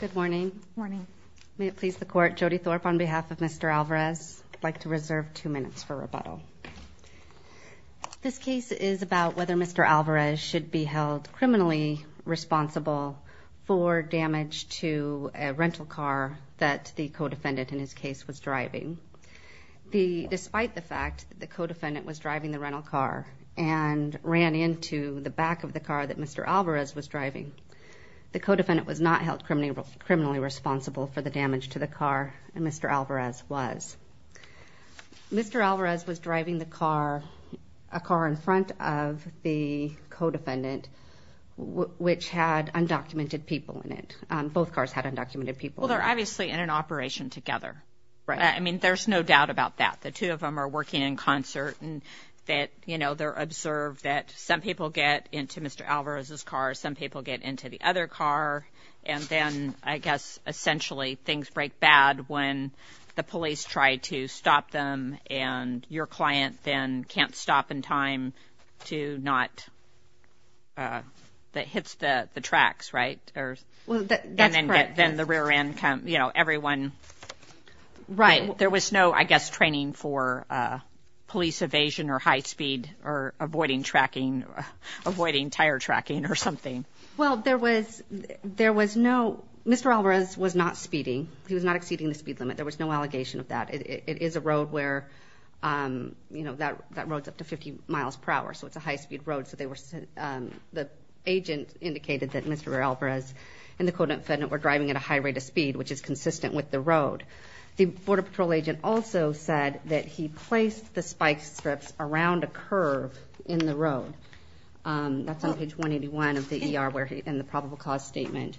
Good morning. May it please the court, Jody Thorpe on behalf of Mr. Alvarez, I'd like to reserve two minutes for rebuttal. This case is about whether Mr. Alvarez should be held criminally responsible for damage to a rental car that the co-defendant in his case was driving. Despite the fact that the co-defendant was driving the rental car and ran into the back of the car that Mr. Alvarez was driving, the co-defendant was not held criminally responsible for the damage to the car that Mr. Alvarez was. Mr. Alvarez was driving the car, a car in front of the co-defendant, which had undocumented people in it. They're obviously in an operation together. I mean, there's no doubt about that. The two of them are working in concert and that, you know, they're observed that some people get into Mr. Alvarez's car, some people get into the other car, and then I guess essentially things break bad when the police try to stop them and your client then can't stop in time to not hit the tracks, right? Well, that's correct. And then the rear end, you know, everyone. Right. There was no, I guess, training for police evasion or high speed or avoiding tracking, avoiding tire tracking or something. Well, there was no – Mr. Alvarez was not speeding. He was not exceeding the speed limit. There was no allegation of that. It is a road where, you know, that road's up to 50 miles per hour, so it's a high speed road. So they were – the agent indicated that Mr. Alvarez and the co-defendant were driving at a high rate of speed, which is consistent with the road. The Border Patrol agent also said that he placed the spike strips around a curve in the road. That's on page 181 of the ER where he – in the probable cause statement.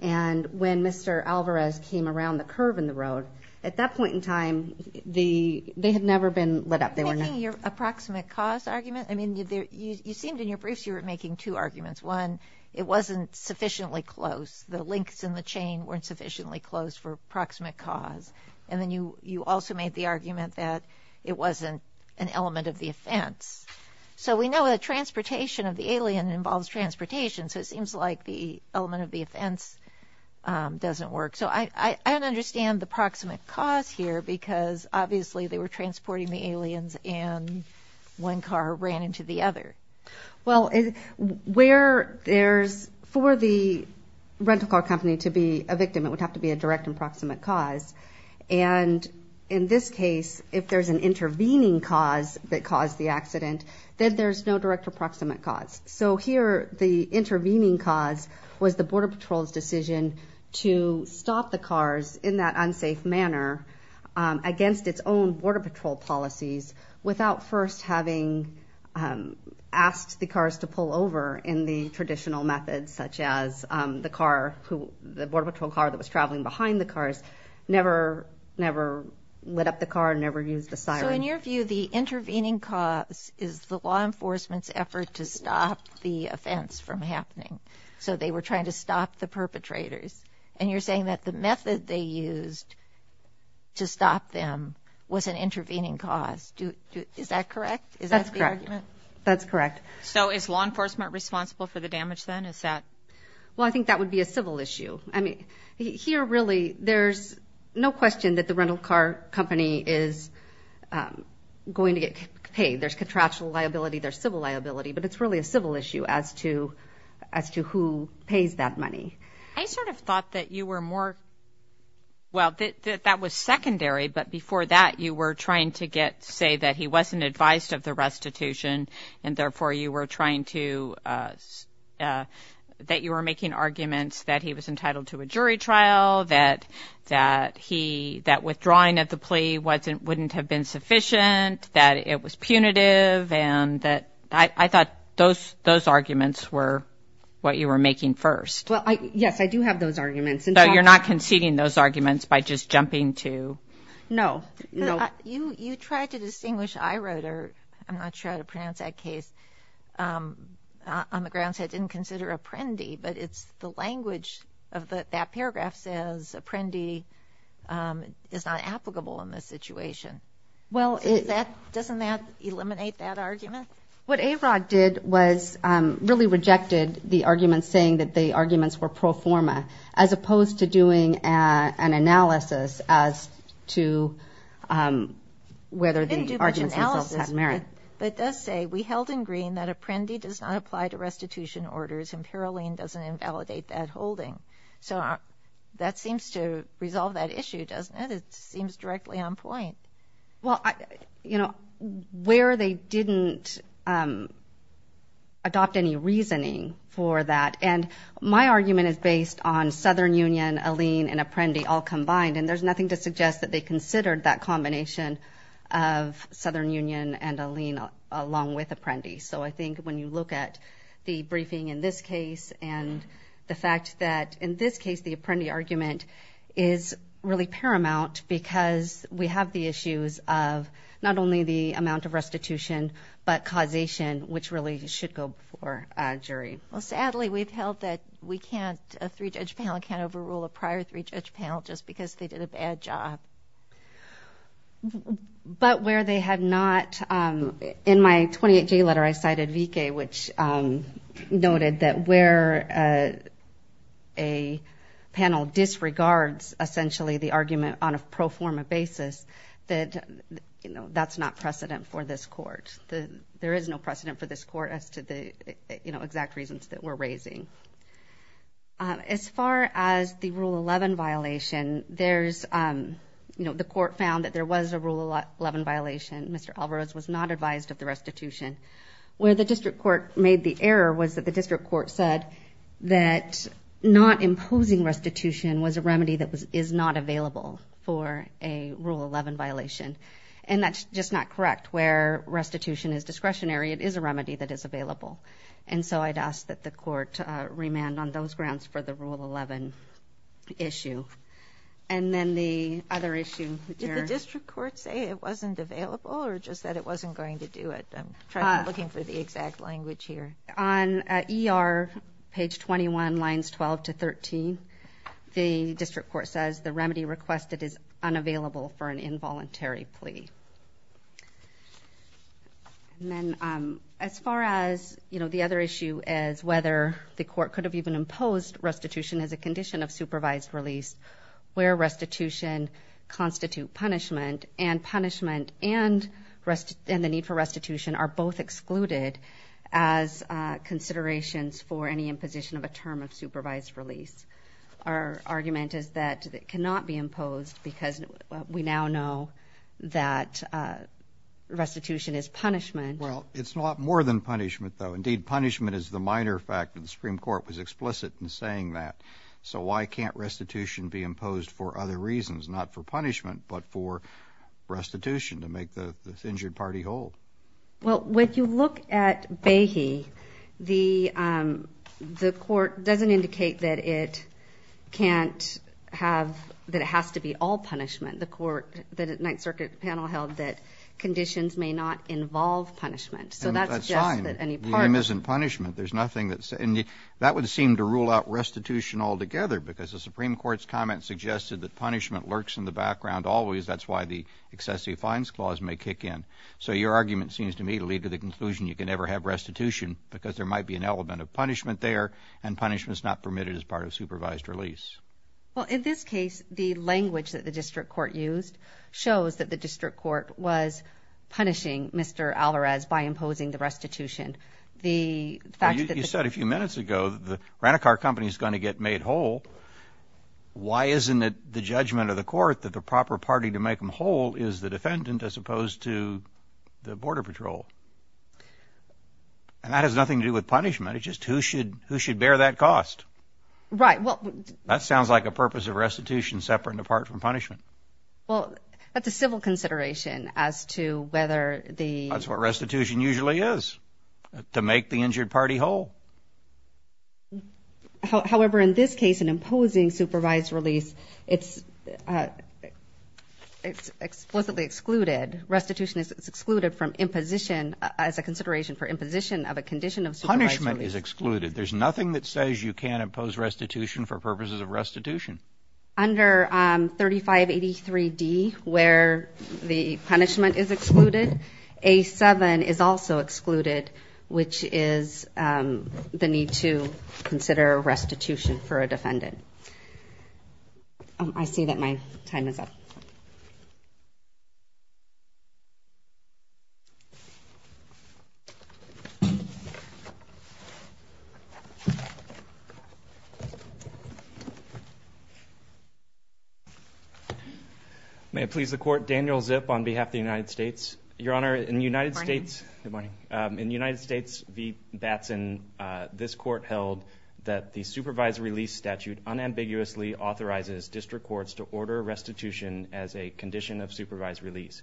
And when Mr. Alvarez came around the curve in the road, at that point in time, they had never been lit up. You're making your approximate cause argument? I mean, you seemed in your briefs you were making two arguments. One, it wasn't sufficiently close. The links in the chain weren't sufficiently close for approximate cause. And then you also made the argument that it wasn't an element of the offense. So we know that transportation of the alien involves transportation, so it seems like the element of the offense doesn't work. So I don't understand the proximate cause here because, obviously, they were transporting the aliens and one car ran into the other. Well, where there's – for the rental car company to be a victim, it would have to be a direct and proximate cause. And in this case, if there's an intervening cause that caused the accident, then there's no direct or proximate cause. So here the intervening cause was the Border Patrol's decision to stop the cars in that unsafe manner against its own Border Patrol policies without first having asked the cars to pull over in the traditional methods, such as the car who – the Border Patrol car that was traveling behind the cars never lit up the car, never used the siren. So in your view, the intervening cause is the law enforcement's effort to stop the offense from happening. So they were trying to stop the perpetrators. And you're saying that the method they used to stop them was an intervening cause. Is that correct? Is that the argument? That's correct. That's correct. So is law enforcement responsible for the damage then? Is that – Well, I think that would be a civil issue. I mean, here really there's no question that the rental car company is going to get paid. There's contractual liability. There's civil liability. But it's really a civil issue as to who pays that money. I sort of thought that you were more – well, that that was secondary. But before that, you were trying to get – say that he wasn't advised of the restitution, and therefore you were trying to – that you were making arguments that he was entitled to a jury trial, that he – that withdrawing of the plea wasn't – wouldn't have been sufficient, that it was punitive, and that – I thought those arguments were what you were making first. Well, yes, I do have those arguments. So you're not conceding those arguments by just jumping to – No. No. You tried to distinguish – I wrote, or I'm not sure how to pronounce that case, on the grounds that I didn't consider Apprendi, but it's the language of that paragraph says Apprendi is not applicable in this situation. Well, it – So is that – doesn't that eliminate that argument? What AROG did was really rejected the argument saying that the arguments were pro forma, as opposed to doing an analysis as to whether the arguments themselves had merit. Didn't do much analysis, but it does say, we held in green that Apprendi does not apply to restitution orders, and Paroline doesn't invalidate that holding. So that seems to resolve that issue, doesn't it? It seems directly on point. Well, you know, where they didn't adopt any reasoning for that – and my argument is based on Southern Union, Alene, and Apprendi all combined, and there's nothing to suggest that they considered that combination of Southern Union and Alene along with Apprendi. So I think when you look at the briefing in this case and the fact that in this case the Apprendi argument is really paramount because we have the issues of not only the amount of restitution but causation, which really should go before a jury. Well, sadly, we've held that we can't – a three-judge panel can't overrule a prior three-judge panel just because they did a bad job. But where they have not – in my 28-J letter I cited Vique, which noted that where a panel disregards essentially the argument on a pro forma basis, that, you know, that's not precedent for this Court. There is no precedent for this Court as to the, you know, exact reasons that we're raising. As far as the Rule 11 violation, there's – you know, the Court found that there was a Rule 11 violation. Mr. Alvarez was not advised of the restitution. Where the district court made the error was that the district court said that not imposing restitution was a remedy that is not available for a Rule 11 violation, and that's just not correct. Where restitution is discretionary, it is a remedy that is available. And so I'd ask that the Court remand on those grounds for the Rule 11 issue. And then the other issue here. Did the district court say it wasn't available or just that it wasn't going to do it? I'm looking for the exact language here. On ER page 21, lines 12 to 13, the district court says the remedy requested is unavailable for an involuntary plea. And then as far as, you know, the other issue is whether the court could have even imposed restitution as a condition of supervised release where restitution constitute punishment, and punishment and the need for restitution are both excluded as considerations for any imposition of a term of supervised release. Our argument is that it cannot be imposed because we now know that restitution is punishment. Well, it's not more than punishment, though. Indeed, punishment is the minor fact that the Supreme Court was explicit in saying that. So why can't restitution be imposed for other reasons, not for punishment, but for restitution to make the injured party whole? Well, when you look at Behe, the court doesn't indicate that it can't have, that it has to be all punishment. The court, the Ninth Circuit panel held that conditions may not involve punishment. So that suggests that any part of it. because the Supreme Court's comment suggested that punishment lurks in the background always. That's why the excessive fines clause may kick in. So your argument seems to me to lead to the conclusion you can never have restitution because there might be an element of punishment there, and punishment is not permitted as part of supervised release. Well, in this case, the language that the district court used shows that the district court was punishing Mr. Alvarez by imposing the restitution. You said a few minutes ago that the rent-a-car company is going to get made whole. Why isn't it the judgment of the court that the proper party to make them whole is the defendant as opposed to the border patrol? And that has nothing to do with punishment. It's just who should bear that cost. Right. That sounds like a purpose of restitution separate and apart from punishment. Well, that's a civil consideration as to whether the... Restitution usually is to make the injured party whole. However, in this case, in imposing supervised release, it's explicitly excluded. Restitution is excluded from imposition as a consideration for imposition of a condition of supervised release. Punishment is excluded. There's nothing that says you can't impose restitution for purposes of restitution. Under 3583D, where the punishment is excluded, A7 is also excluded, which is the need to consider restitution for a defendant. I see that my time is up. May it please the court. Daniel Zip on behalf of the United States. Your Honor, in the United States... Good morning. In the United States v. Batson, this court held that the supervised release statute unambiguously authorizes district courts to order restitution as a condition of supervised release.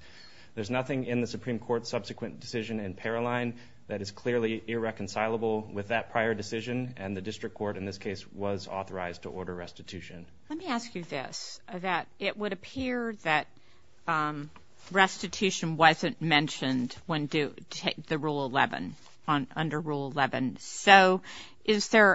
There's nothing in the Supreme Court's subsequent decision in Paroline that is clearly irreconcilable with that prior decision, and the district court in this case was authorized to order restitution. Let me ask you this. It would appear that restitution wasn't mentioned under Rule 11. So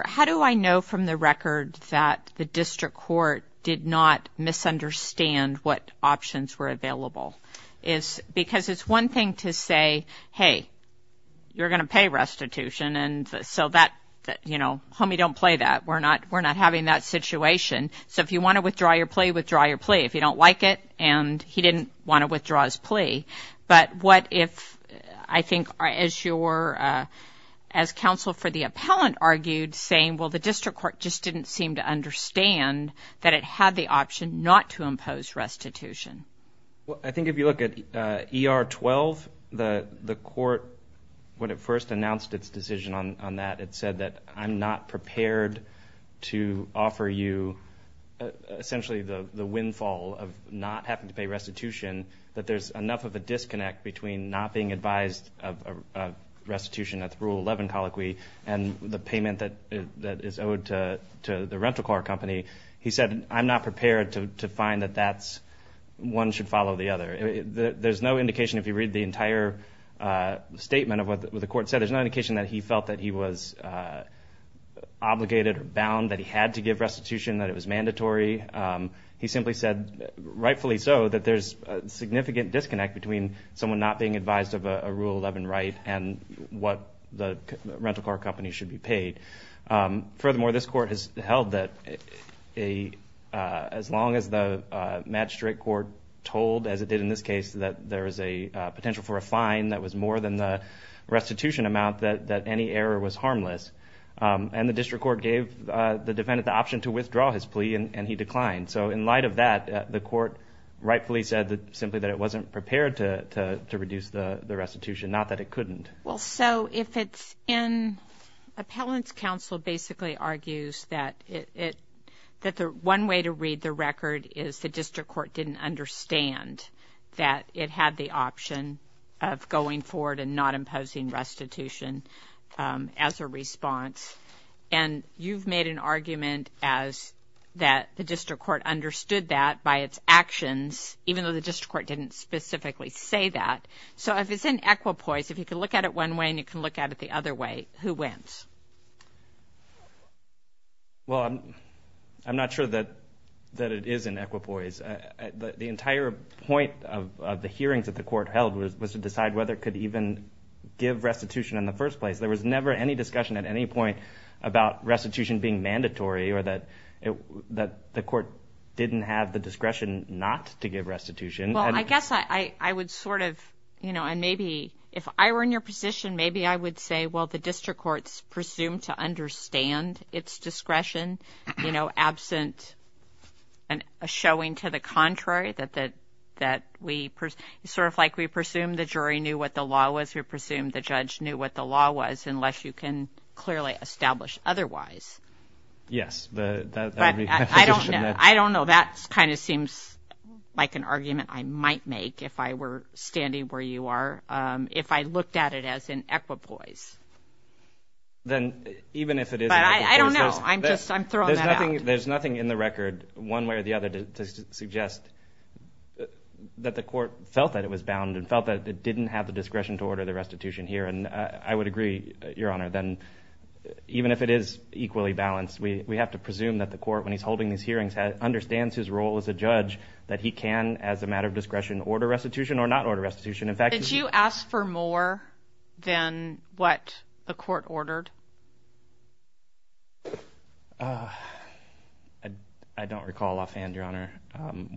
how do I know from the record that the district court did not misunderstand what options were available? Because it's one thing to say, hey, you're going to pay restitution, and so that, you know, homie, don't play that. We're not having that situation. So if you want to withdraw your plea, withdraw your plea. If you don't like it, and he didn't want to withdraw his plea, but what if, I think, as counsel for the appellant argued, saying, well, the district court just didn't seem to understand that it had the option not to impose restitution. Well, I think if you look at ER 12, the court, when it first announced its decision on that, it said that I'm not prepared to offer you essentially the windfall of not having to pay restitution, that there's enough of a disconnect between not being advised of restitution at the Rule 11 colloquy and the payment that is owed to the rental car company. He said, I'm not prepared to find that that's one should follow the other. There's no indication, if you read the entire statement of what the court said, there's no indication that he felt that he was obligated or bound, that he had to give restitution, that it was mandatory. He simply said, rightfully so, that there's a significant disconnect between someone not being advised of a Rule 11 right and what the rental car company should be paid. Furthermore, this court has held that as long as the magistrate court told, as it did in this case, that there is a potential for a fine that was more than the restitution amount, that any error was harmless. And the district court gave the defendant the option to withdraw his plea, and he declined. So in light of that, the court rightfully said simply that it wasn't prepared to reduce the restitution, not that it couldn't. Well, so if it's in, appellant's counsel basically argues that the one way to read the record is the district court didn't understand that it had the option of going forward and not imposing restitution as a response. And you've made an argument as that the district court understood that by its actions, even though the district court didn't specifically say that. So if it's in equipoise, if you can look at it one way and you can look at it the other way, who wins? Well, I'm not sure that it is in equipoise. The entire point of the hearings that the court held was to decide whether it could even give restitution in the first place. There was never any discussion at any point about restitution being mandatory or that the court didn't have the discretion not to give restitution. Well, I guess I would sort of, you know, and maybe if I were in your position, maybe I would say, well, the district court's presumed to understand its discretion, you know, absent a showing to the contrary that we sort of like we presume the jury knew what the law was, we presume the judge knew what the law was, unless you can clearly establish otherwise. Yes. I don't know. That kind of seems like an argument I might make if I were standing where you are. If I looked at it as in equipoise. Then even if it is in equipoise. I don't know. I'm just throwing that out. There's nothing in the record one way or the other to suggest that the court felt that it was bound and felt that it didn't have the discretion to order the restitution here. And I would agree, Your Honor, that even if it is equally balanced, we have to presume that the court, when he's holding these hearings, understands his role as a judge, that he can, as a matter of discretion, order restitution or not order restitution. Did you ask for more than what the court ordered? I don't recall offhand, Your Honor.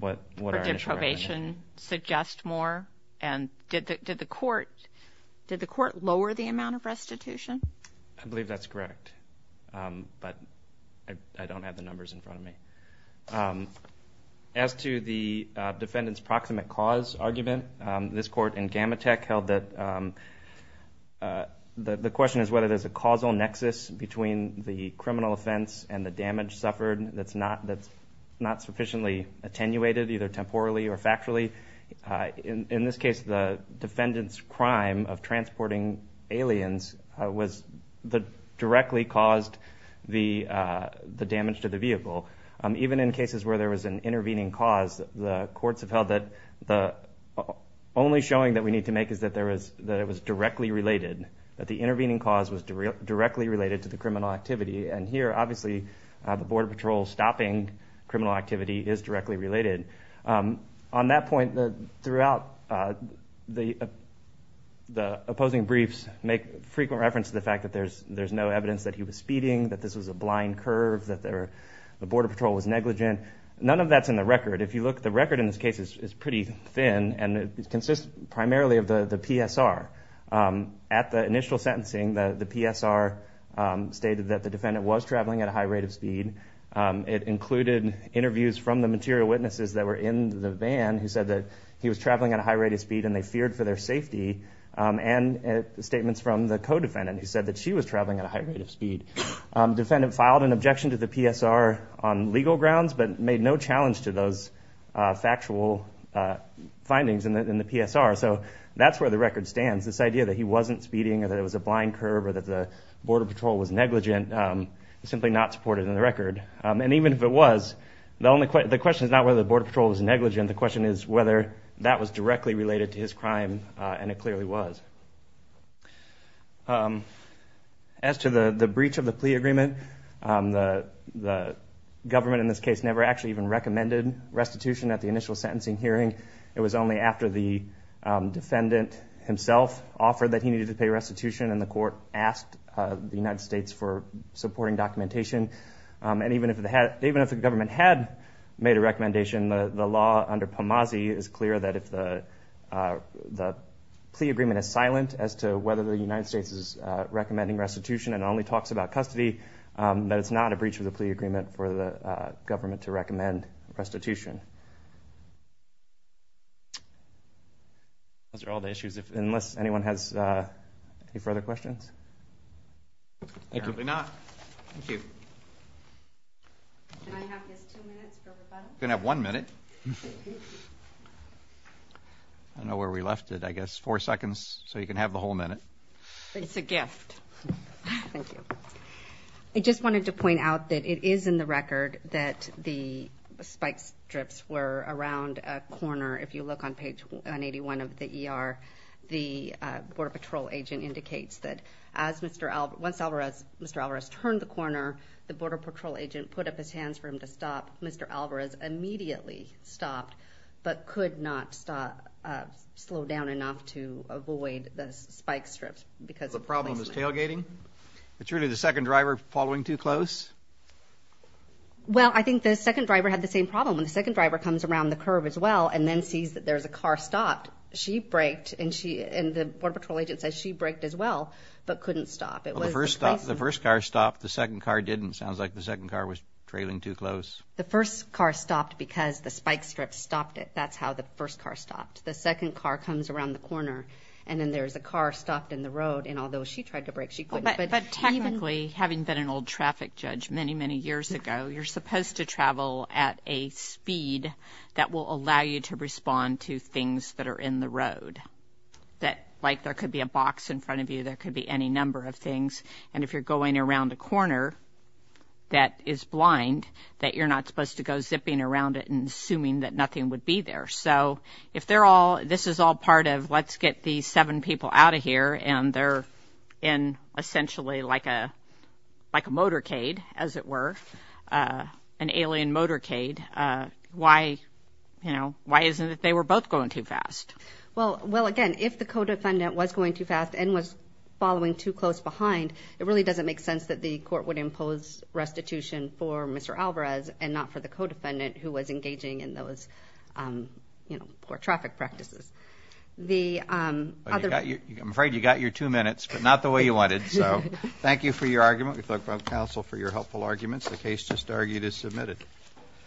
Or did probation suggest more? And did the court lower the amount of restitution? I believe that's correct. But I don't have the numbers in front of me. As to the defendant's proximate cause argument, this court in Gamatech held that the question is whether there's a causal nexus between the criminal offense and the damage suffered that's not sufficiently attenuated, either temporally or factually. In this case, the defendant's crime of transporting aliens directly caused the damage to the vehicle. Even in cases where there was an intervening cause, the courts have held that the only showing that we need to make is that it was directly related, that the intervening cause was directly related to the criminal activity. And here, obviously, the Border Patrol stopping criminal activity is directly related. On that point, throughout the opposing briefs, make frequent reference to the fact that there's no evidence that he was speeding, that this was a blind curve, that the Border Patrol was negligent. None of that's in the record. If you look, the record in this case is pretty thin, and it consists primarily of the PSR. At the initial sentencing, the PSR stated that the defendant was traveling at a high rate of speed. It included interviews from the material witnesses that were in the van, who said that he was traveling at a high rate of speed and they feared for their safety, and statements from the co-defendant, who said that she was traveling at a high rate of speed. The defendant filed an objection to the PSR on legal grounds, but made no challenge to those factual findings in the PSR. So that's where the record stands. This idea that he wasn't speeding or that it was a blind curve or that the Border Patrol was negligent is simply not supported in the record. And even if it was, the question is not whether the Border Patrol was negligent. The question is whether that was directly related to his crime, and it clearly was. As to the breach of the plea agreement, the government in this case never actually even recommended restitution at the initial sentencing hearing. It was only after the defendant himself offered that he needed to pay restitution and the court asked the United States for supporting documentation. And even if the government had made a recommendation, the law under PAMASI is clear that if the plea agreement is silent as to whether the United States is recommending restitution and only talks about custody, that it's not a breach of the plea agreement for the government to recommend restitution. Those are all the issues. Unless anyone has any further questions? Apparently not. Thank you. Can I have just two minutes for rebuttal? You can have one minute. I don't know where we left it. I guess four seconds so you can have the whole minute. It's a gift. Thank you. I just wanted to point out that it is in the record that the spike strips were around a corner. If you look on page 181 of the ER, the Border Patrol agent indicates that once Mr. Alvarez turned the corner, the Border Patrol agent put up his hands for him to stop. Mr. Alvarez immediately stopped but could not slow down enough to avoid the spike strips. The problem is tailgating? It's really the second driver following too close? Well, I think the second driver had the same problem. The second driver comes around the curve as well and then sees that there's a car stopped. She braked and the Border Patrol agent says she braked as well but couldn't stop. The first car stopped. The second car didn't. It sounds like the second car was trailing too close. The first car stopped because the spike strips stopped it. That's how the first car stopped. The second car comes around the corner and then there's a car stopped in the road. And although she tried to brake, she couldn't. But technically, having been an old traffic judge many, many years ago, you're supposed to travel at a speed that will allow you to respond to things that are in the road. Like there could be a box in front of you, there could be any number of things. And if you're going around a corner that is blind, that you're not supposed to go zipping around it and assuming that nothing would be there. So if this is all part of let's get these seven people out of here and they're in essentially like a motorcade, as it were, an alien motorcade, why isn't it that they were both going too fast? Well, again, if the co-defendant was going too fast and was following too close behind, it really doesn't make sense that the court would impose restitution for Mr. Alvarez and not for the co-defendant who was engaging in those poor traffic practices. I'm afraid you got your two minutes, but not the way you wanted. So thank you for your argument. We thank the counsel for your helpful arguments. The case just argued is submitted.